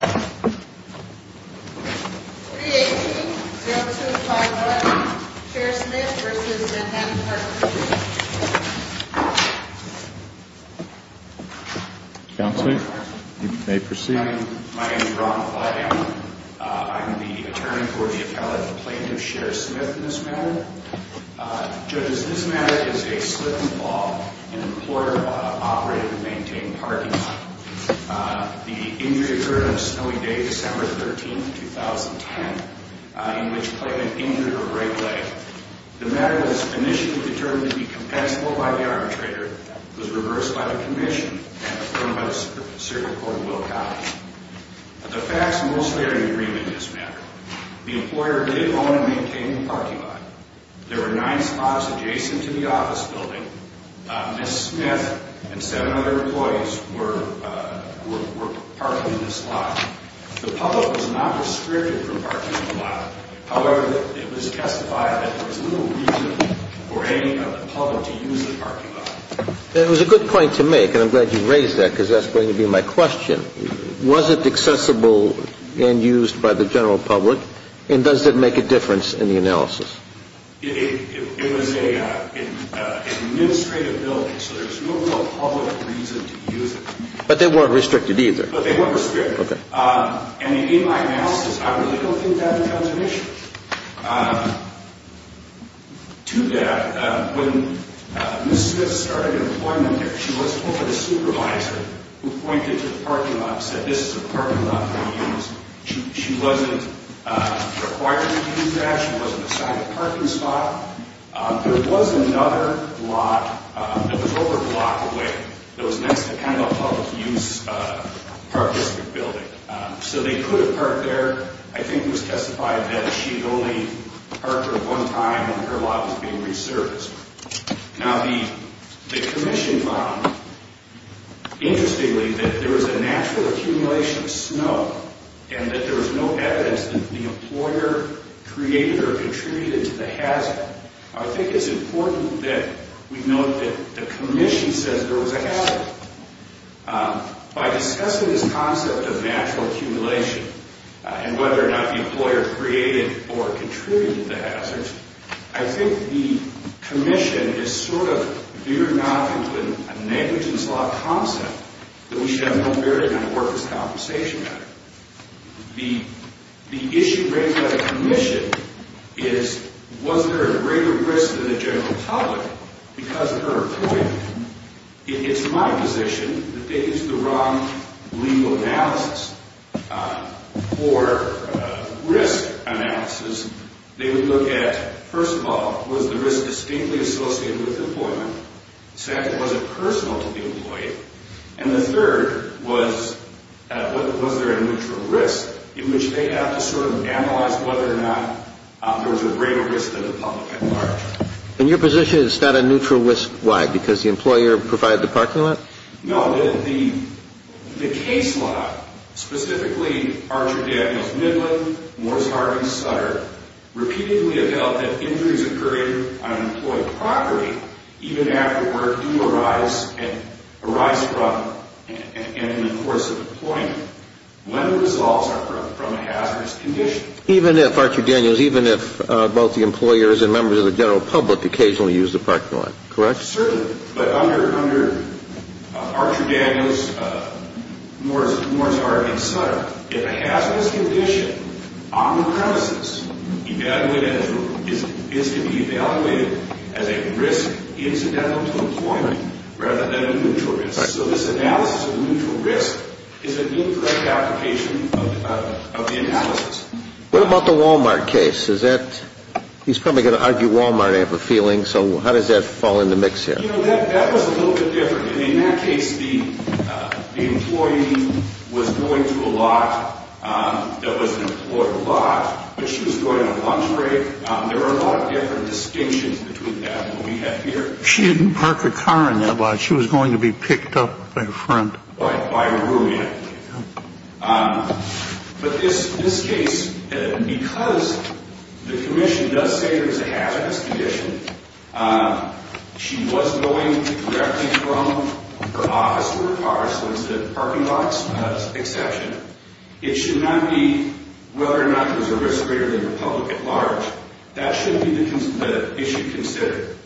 318-0251 Cher Smith v. Manhattan Park Commission Counsel, you may proceed. My name is Ron Flaidham. I'm the attorney for the appellate plaintiff, Cher Smith, in this matter. Judges, this matter is a slip in the law. An employer operated and maintained parking lot. The injury occurred on a snowy day, December 13, 2010, in which the plaintiff injured her right leg. The matter was initially determined to be compensable by the arbitrator. It was reversed by the commission and affirmed by the circuit court in Will County. The facts most clearly agree with this matter. The employer did own and maintain the parking lot. There were nine spots adjacent to the office building. Ms. Smith and seven other employees were parking in this lot. The public was not restricted from parking in the lot. However, it was testified that there was little reason for any other public to use the parking lot. It was a good point to make, and I'm glad you raised that because that's going to be my question. Was it accessible and used by the general public, and does it make a difference in the analysis? It was an administrative building, so there's no real public reason to use it. But they weren't restricted either. But they weren't restricted. Okay. And in my analysis, I really don't think that becomes an issue. To that, when Ms. Smith started employment there, she was told by the supervisor who pointed to the parking lot and said, this is a parking lot that we use. She wasn't required to use that. She wasn't assigned a parking spot. There was another lot that was over a block away that was next to kind of a public use park district building. So they could have parked there. I think it was testified that she had only parked there one time, and her lot was being resurfaced. Now, the commission found, interestingly, that there was a natural accumulation of snow and that there was no evidence that the employer created or contributed to the hazard. I think it's important that we note that the commission says there was a hazard. By discussing this concept of natural accumulation and whether or not the employer created or contributed to the hazard, I think the commission is sort of veering off into a negligence law concept that we should have no bearing on the workers' compensation matter. The issue raised by the commission is, was there a greater risk to the general public because of her employment? It's my position that they used the wrong legal analysis for risk analysis. They would look at, first of all, was the risk distinctly associated with employment? Second, was it personal to the employee? And the third was, was there a neutral risk in which they have to sort of analyze whether or not there was a greater risk to the public at large? And your position is it's not a neutral risk? Why, because the employer provided the parking lot? No, the case law, specifically Archer Daniels Midland, Morse, Harvey, Sutter, repeatedly have held that injuries occur on employed property even after work do arise from and in the course of employment when the results are from a hazardous condition. Even if Archer Daniels, even if both the employers and members of the general public occasionally use the parking lot, correct? Certainly, but under Archer Daniels, Morse, Harvey, Sutter, if a hazardous condition on the premises is to be evaluated as a risk incidental to employment rather than a neutral risk. So this analysis of a neutral risk is an incorrect application of the analysis. What about the Walmart case? He's probably going to argue Walmart, I have a feeling. So how does that fall in the mix here? You know, that was a little bit different. In that case, the employee was going to a lot that was employed a lot, but she was going on a lunch break. There were a lot of different distinctions between that and what we have here. She didn't park her car in that lot. She was going to be picked up by a friend. By a roommate. But this case, because the commission does say there's a hazardous condition, she was going directly from her office to her car, so it's the parking lot's exception. It should not be whether or not there's a risk greater than the public at large. That should be the issue considered.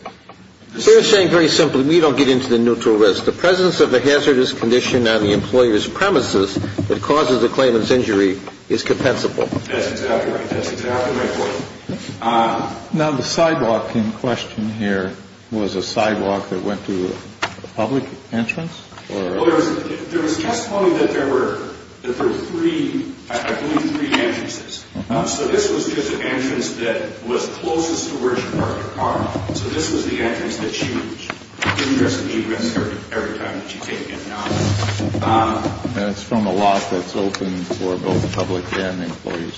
They're saying very simply, we don't get into the neutral risk. The presence of a hazardous condition on the employer's premises that causes a claimant's injury is compensable. That's exactly right. That's exactly my point. Now, the sidewalk in question here was a sidewalk that went to a public entrance? There was testimony that there were three, I believe, three entrances. So this was just an entrance that was closest to where she parked her car. So this was the entrance that she was in. There's a neutral risk every time that she came in and out. And it's from a lot that's open for both public and employees.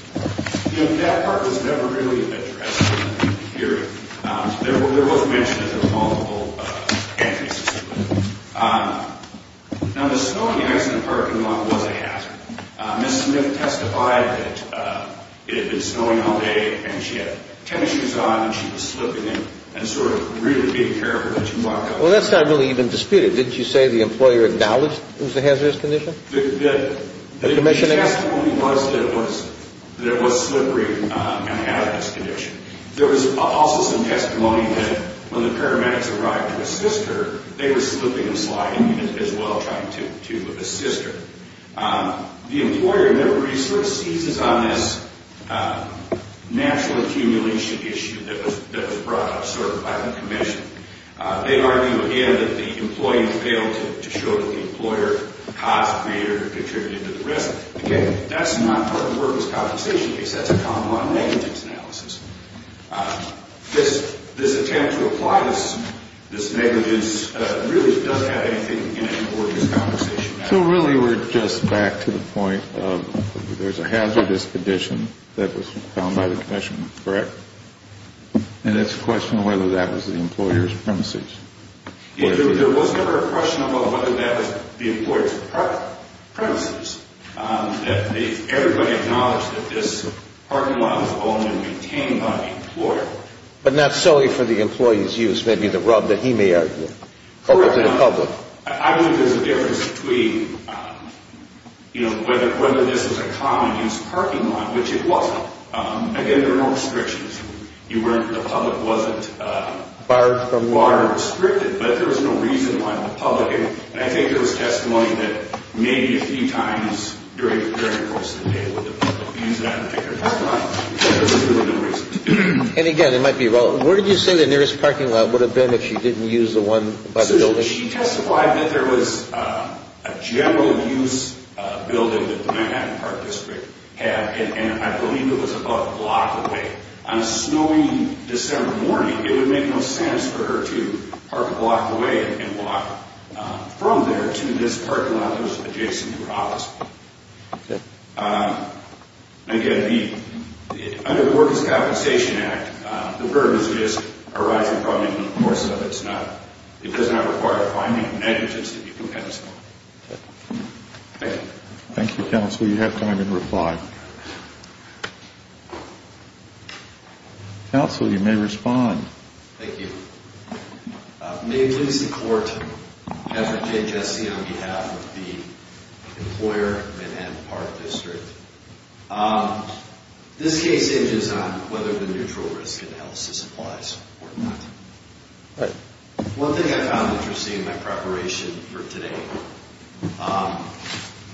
You know, that part was never really addressed in the hearing. There was mention that there were multiple entrances to it. Now, the snowing ice in the parking lot was a hazard. Ms. Smith testified that it had been snowing all day and she had tennis shoes on and she was slipping and sort of really being careful that she walked out. Well, that's not really even disputed. Didn't you say the employer acknowledged it was a hazardous condition? The testimony was that it was slippery and hazardous condition. There was also some testimony that when the paramedics arrived to assist her, they were slipping and sliding as well trying to assist her. The employer never really sort of seizes on this natural accumulation issue that was brought up sort of by the commission. They argue, again, that the employee failed to show that the employer caused greater or contributed to the risk. Again, that's not part of the workers' compensation case. That's a common law negligence analysis. This attempt to apply this negligence really doesn't have anything in it for this conversation. So really we're just back to the point of there's a hazardous condition that was found by the commission, correct? And it's a question of whether that was the employer's premises. There was never a question about whether that was the employer's premises. Everybody acknowledged that this parking lot was owned and maintained by the employer. But not solely for the employee's use, maybe the rub that he may argue. Correct. Over to the public. I believe there's a difference between whether this was a common-use parking lot, which it wasn't. Again, there were no restrictions. The public wasn't barred or restricted, but there was no reason why the public, And I think there was testimony that maybe a few times during the course of the day would the public use that particular parking lot, but there was really no reason to do it. And again, it might be relevant. Where did you say the nearest parking lot would have been if she didn't use the one by the building? She testified that there was a general-use building that the Manhattan Park District had, and I believe it was about a block away. On a snowy December morning, it would make no sense for her to park a block away and walk from there to this parking lot that was adjacent to her office. Okay. Again, under the Workers' Compensation Act, the burden is just arising from it. In the course of it, it does not require finding negligence to be compensable. Okay. Thank you. Thank you, counsel. You have time to reply. Counsel, you may respond. Thank you. May it please the Court, Kevin K. Jesse on behalf of the employer, Manhattan Park District. This case hinges on whether the neutral risk analysis applies or not. All right. One thing I found interesting in my preparation for today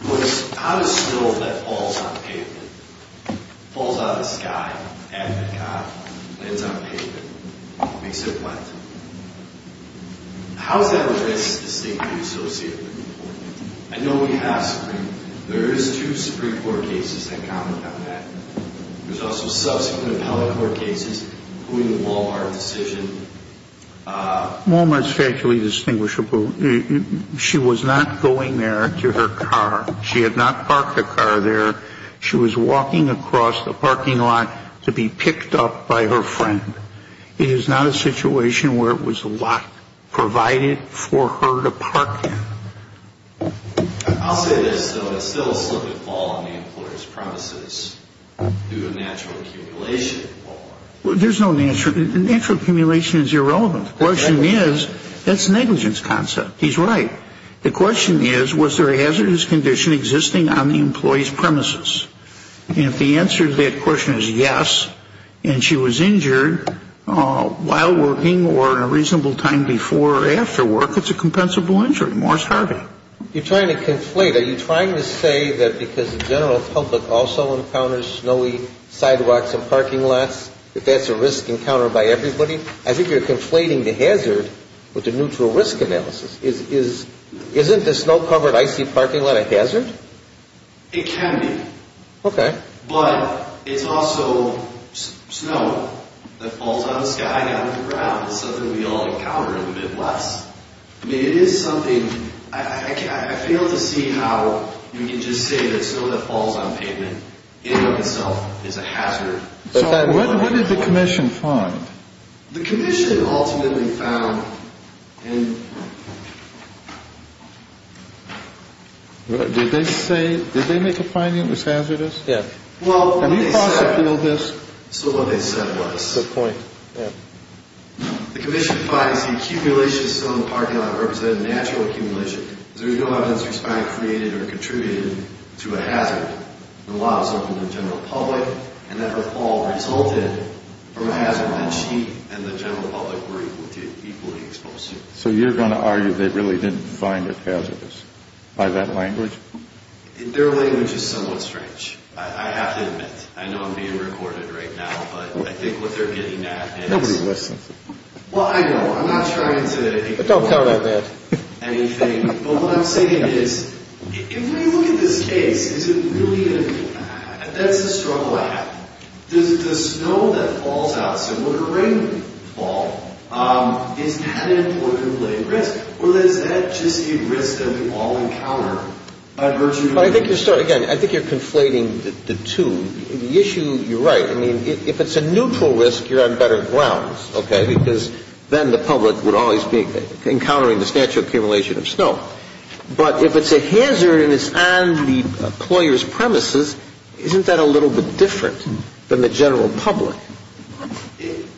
was how does snow that falls on pavement, falls out of the sky, lands on pavement, makes it wet? How is that risk distinctly associated? I know we have Supreme. There is two Supreme Court cases that comment on that. There's also subsequent appellate court cases, including the Wal-Mart decision. Wal-Mart is factually distinguishable. She was not going there to her car. She had not parked her car there. She was walking across the parking lot to be picked up by her friend. It is not a situation where it was a lot provided for her to park in. I'll say this, though. It's still a slip and fall on the employer's premises due to natural accumulation at Wal-Mart. Well, there's no natural accumulation. Natural accumulation is irrelevant. The question is, that's a negligence concept. He's right. The question is, was there a hazardous condition existing on the employee's premises? And if the answer to that question is yes, and she was injured while working or in a reasonable time before or after work, it's a compensable injury, more starving. You're trying to conflate. Are you trying to say that because the general public also encounters snowy sidewalks and parking lots, that that's a risk encountered by everybody? I think you're conflating the hazard with the neutral risk analysis. Isn't the snow-covered icy parking lot a hazard? It can be. Okay. But it's also snow that falls on the sky, not on the ground. It's something we all encounter in the Midwest. I mean, it is something. I fail to see how you can just say that snow that falls on pavement in and of itself is a hazard. What did the commission find? The commission ultimately found in... Did they say, did they make a finding that was hazardous? Yes. Well, when they said... So what they said was... Good point. The commission finds the accumulation of snow in the parking lot represented natural accumulation. There's no evidence to explain it created or contributed to a hazard. The law is open to the general public, and that the fall resulted from a hazard that she and the general public were equally exposed to. So you're going to argue they really didn't find it hazardous by that language? Their language is somewhat strange, I have to admit. I know I'm being recorded right now, but I think what they're getting at is... Nobody listens. Well, I know. I'm not trying to... Don't tell them that. But what I'm saying is, if we look at this case, is it really a... That's the struggle I have. The snow that falls out, similar to a rainfall, is that an important risk? Or is that just a risk that we all encounter? I've heard you... I think you're... Again, I think you're conflating the two. The issue, you're right. I mean, if it's a neutral risk, you're on better grounds, okay? Because then the public would always be encountering the statue accumulation of snow. But if it's a hazard and it's on the employer's premises, isn't that a little bit different than the general public?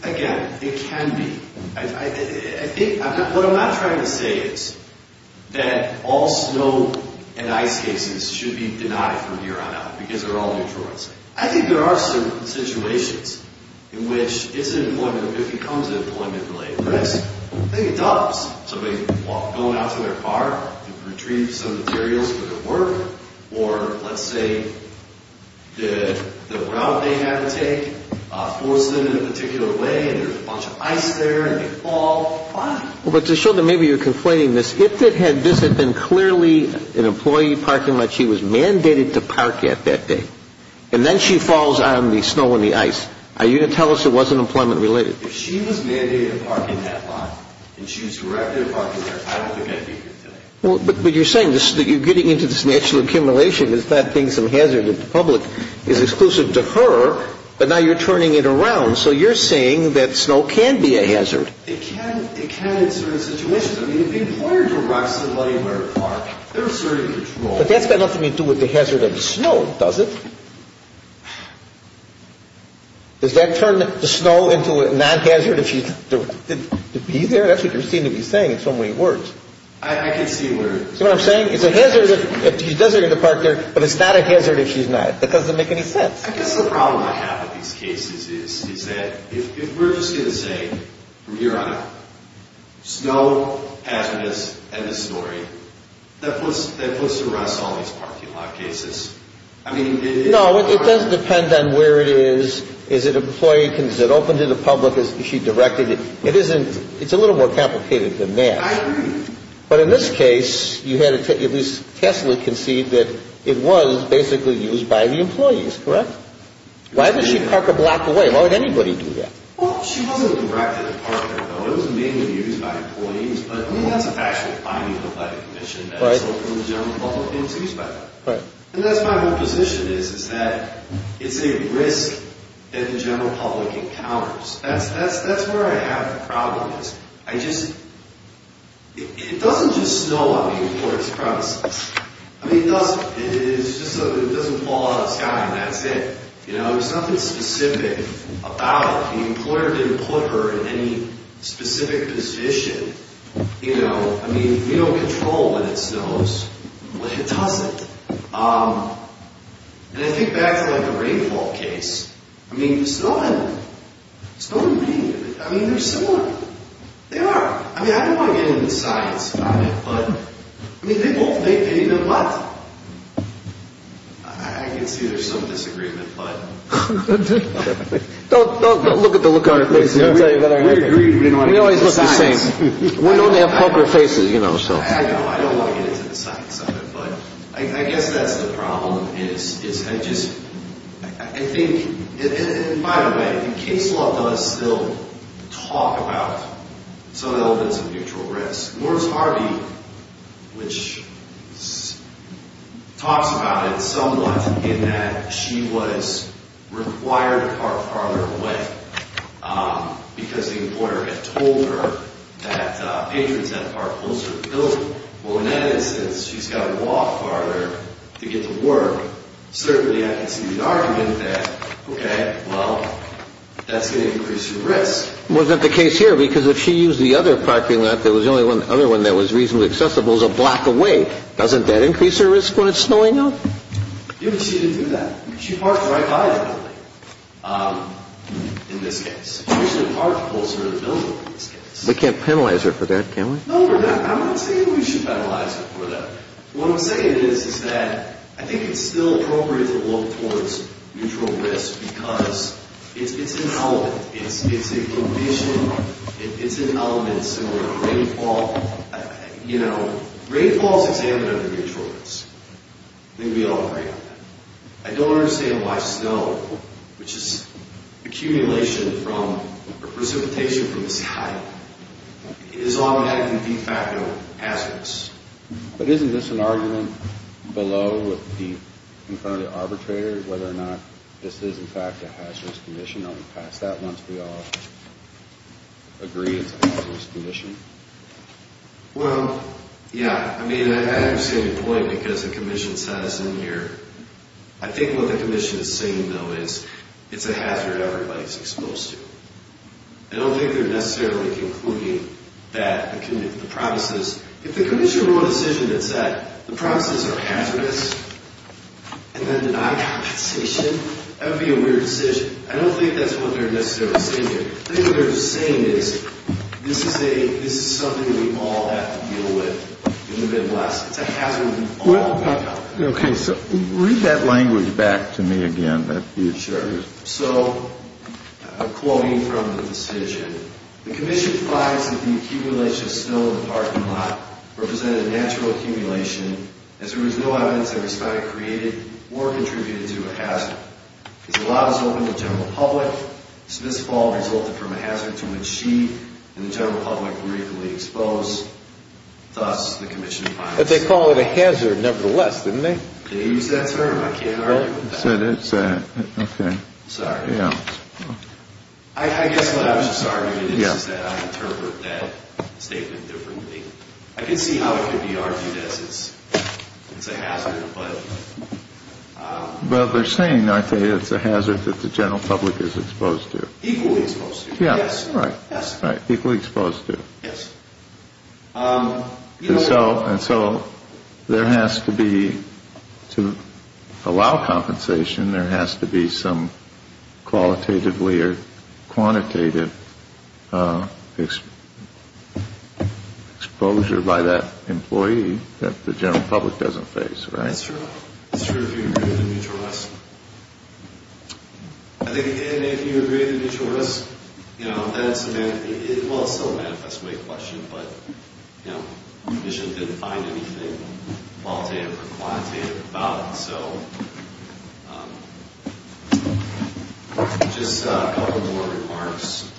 Again, it can be. What I'm not trying to say is that all snow and ice cases should be denied from here on out because they're all neutral risks. I think there are certain situations in which it's an employment... If it becomes an employment-related risk, I think it doubles. Somebody going out to their park to retrieve some materials for their work or, let's say, the route they had to take forced them in a particular way and there's a bunch of ice there and they fall, fine. But to show that maybe you're conflating this, if this had been clearly an employee parking lot, she was mandated to park at that day. And then she falls on the snow and the ice. Are you going to tell us it wasn't employment-related? If she was mandated to park in that lot and she was directed to park there, I don't think I'd be here today. But you're saying that you're getting into this natural accumulation as that being some hazard that the public is exclusive to her, but now you're turning it around. So you're saying that snow can be a hazard. It can. It can in certain situations. I mean, if the employer directs somebody to their park, there are certain controls. But that's got nothing to do with the hazard of the snow, does it? Does that turn the snow into a non-hazard if she's directed to be there? That's what you seem to be saying in so many words. I can see where... See what I'm saying? It's a hazard if she's designated to park there, but it's not a hazard if she's not. That doesn't make any sense. I guess the problem I have with these cases is that if we're just going to say, from here on out, there's no hazardous end of story that puts to rest all these parking lot cases. I mean, it's... No, it does depend on where it is. Is it open to the public? Is she directed? It's a little more complicated than that. I agree. But in this case, you had to at least tacitly concede that it was basically used by the employees, correct? Why did she park a block away? Why would anybody do that? Well, she wasn't directed to park there, though. I mean, it was mainly used by employees, but I think that's a factual finding of that commission that it's open to the general public and it's used by them. And that's my whole position, is that it's a risk that the general public encounters. That's where I have the problem, is I just... It doesn't just snow on the employer's premises. I mean, it doesn't fall out of the sky and that's it. There's nothing specific about it. The employer didn't put her in any specific position. I mean, we don't control when it snows, but it doesn't. And I think back to the rainfall case. I mean, snow and rain, I mean, they're similar. They are. I mean, I don't want to get into science about it, but... I mean, they both... They did what? I can see there's some disagreement, but... Don't look at the look on her face. We agreed we didn't want to get into science. We always look the same. We don't have poker faces, you know, so... I know. I don't want to get into the science of it, but I guess that's the problem, is I just... I think... And by the way, the case law does still talk about some elements of mutual risk. Laura's Harvey, which talks about it somewhat in that she was required to park farther away because the employer had told her that patrons had parked closer to the building. Well, in that instance, she's got to walk farther to get to work. Certainly, I can see the argument that, okay, well, that's going to increase your risk. Well, isn't that the case here? Because if she used the other parking lot, there was only one other one that was reasonably accessible. It was a block away. Doesn't that increase her risk when it's snowing out? Yeah, but she didn't do that. She parked right by the building in this case. She usually parked closer to the building in this case. We can't penalize her for that, can we? No, we're not. I'm not saying we should penalize her for that. What I'm saying is that I think it's still appropriate to look towards mutual risk because it's irrelevant. It's a condition. It's an element similar to rainfall. You know, rainfall is examined under mutual risk. I think we all agree on that. I don't understand why snow, which is accumulation from precipitation from the sky, is automatically de facto hazardous. But isn't this an argument below with the concurrent arbitrator whether or not this is, in fact, a hazardous condition? I'll pass that once we all agree it's a hazardous condition. Well, yeah. I mean, I understand your point because the commission says in here. I think what the commission is saying, though, is it's a hazard everybody is exposed to. I don't think they're necessarily concluding that the promises. If the commission made a decision that said the promises are hazardous and then denied compensation, that would be a weird decision. I don't think that's what they're necessarily saying here. I think what they're saying is this is something we all have to deal with in the Midwest. It's a hazard we all have to deal with. Okay, so read that language back to me again. Sure. So I'm quoting from the decision. The commission finds that the accumulation of snow in the parking lot represented natural accumulation as there was no evidence that was found to have created or contributed to a hazard. As the lot is open to the general public, this fall resulted from a hazard to which she and the general public were equally exposed. Thus, the commission finds. But they call it a hazard nevertheless, didn't they? They use that term. I can't argue with that. Okay. Sorry. Yeah. I guess what I was just arguing is that I interpret that statement differently. I can see how it could be argued as it's a hazard. But they're saying, I think, it's a hazard that the general public is exposed to. Equally exposed to. Yes. Right. Equally exposed to. Yes. And so there has to be, to allow compensation, there has to be some qualitatively or quantitative exposure by that employee that the general public doesn't face, right? That's true. That's true if you agree with the mutual risk. I think if you agree with the mutual risk, you know, that's a, well, it's still a manifest way question. But, you know, the commission didn't find anything qualitative or quantitative about it. So just a couple more remarks.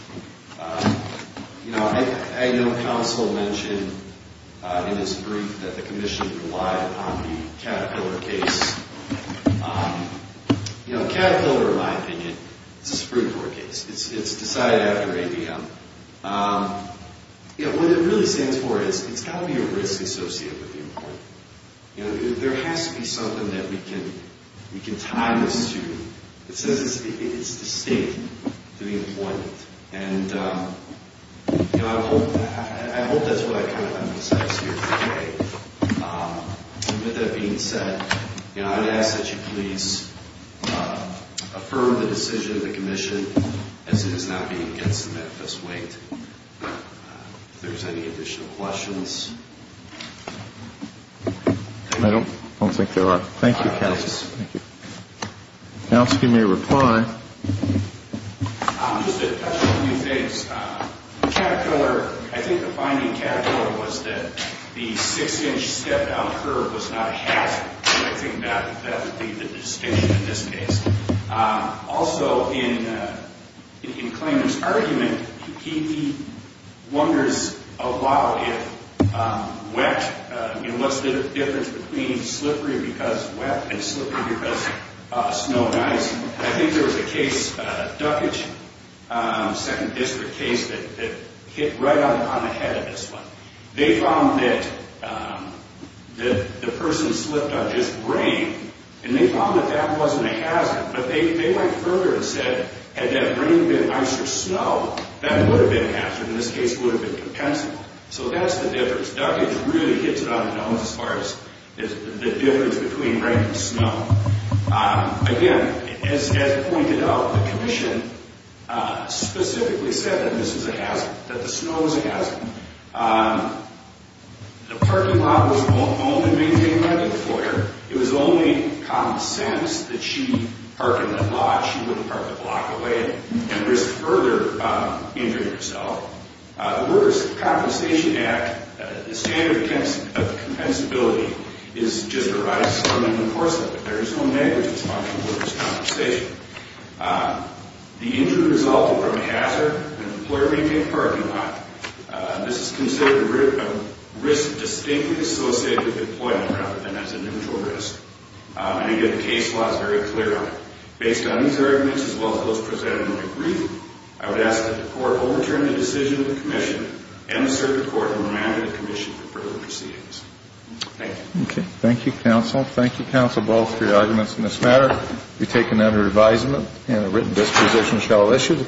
You know, I know counsel mentioned in his brief that the commission relied upon the Caterpillar case. You know, Caterpillar, in my opinion, is a Supreme Court case. It's decided after ABM. You know, what it really stands for is it's got to be a risk associated with the employee. You know, there has to be something that we can tie this to. It says it's distinct to the employee. And, you know, I hope that's what I kind of emphasized here today. With that being said, you know, I'd ask that you please affirm the decision of the commission as it is not being against the manifest weight. If there's any additional questions. I don't think there are. Thank you, counsel. Thank you. Counsel, if you may reply. Just to touch on a few things. Caterpillar, I think the finding in Caterpillar was that the six-inch step-down curve was not a hazard. And I think that would be the distinction in this case. Also, in Clayman's argument, he wonders a lot if wet, you know, what's the difference between slippery because wet and slippery because snow and ice. I think there was a case, Duckage, second district case that hit right on the head of this one. They found that the person slipped on just rain. And they found that that wasn't a hazard. But they went further and said had that rain been ice or snow, that would have been a hazard. In this case, it would have been compensable. So that's the difference. Duckage really hits it on the nose as far as the difference between rain and snow. Again, as pointed out, the commission specifically said that this was a hazard, that the snow was a hazard. The parking lot was open and maintained by the employer. It was the only common sense that she'd park in the lot. She wouldn't park a block away and risk further injuring herself. The Workers' Compensation Act, the standard of compensability just arises from enforcement. But there is no negligence on the workers' compensation. The injury resulted from a hazard. An employer maintained a parking lot. This is considered a risk distinctly associated with employment rather than as an individual risk. And again, the case law is very clear on it. Based on these arguments as well as those presented in the brief, I would ask that the court overturn the decision of the commission and assert the court will remand the commission for further proceedings. Thank you. Okay. Thank you, counsel. Thank you, counsel, both, for your arguments in this matter. We take another advisement. And a written disposition shall issue.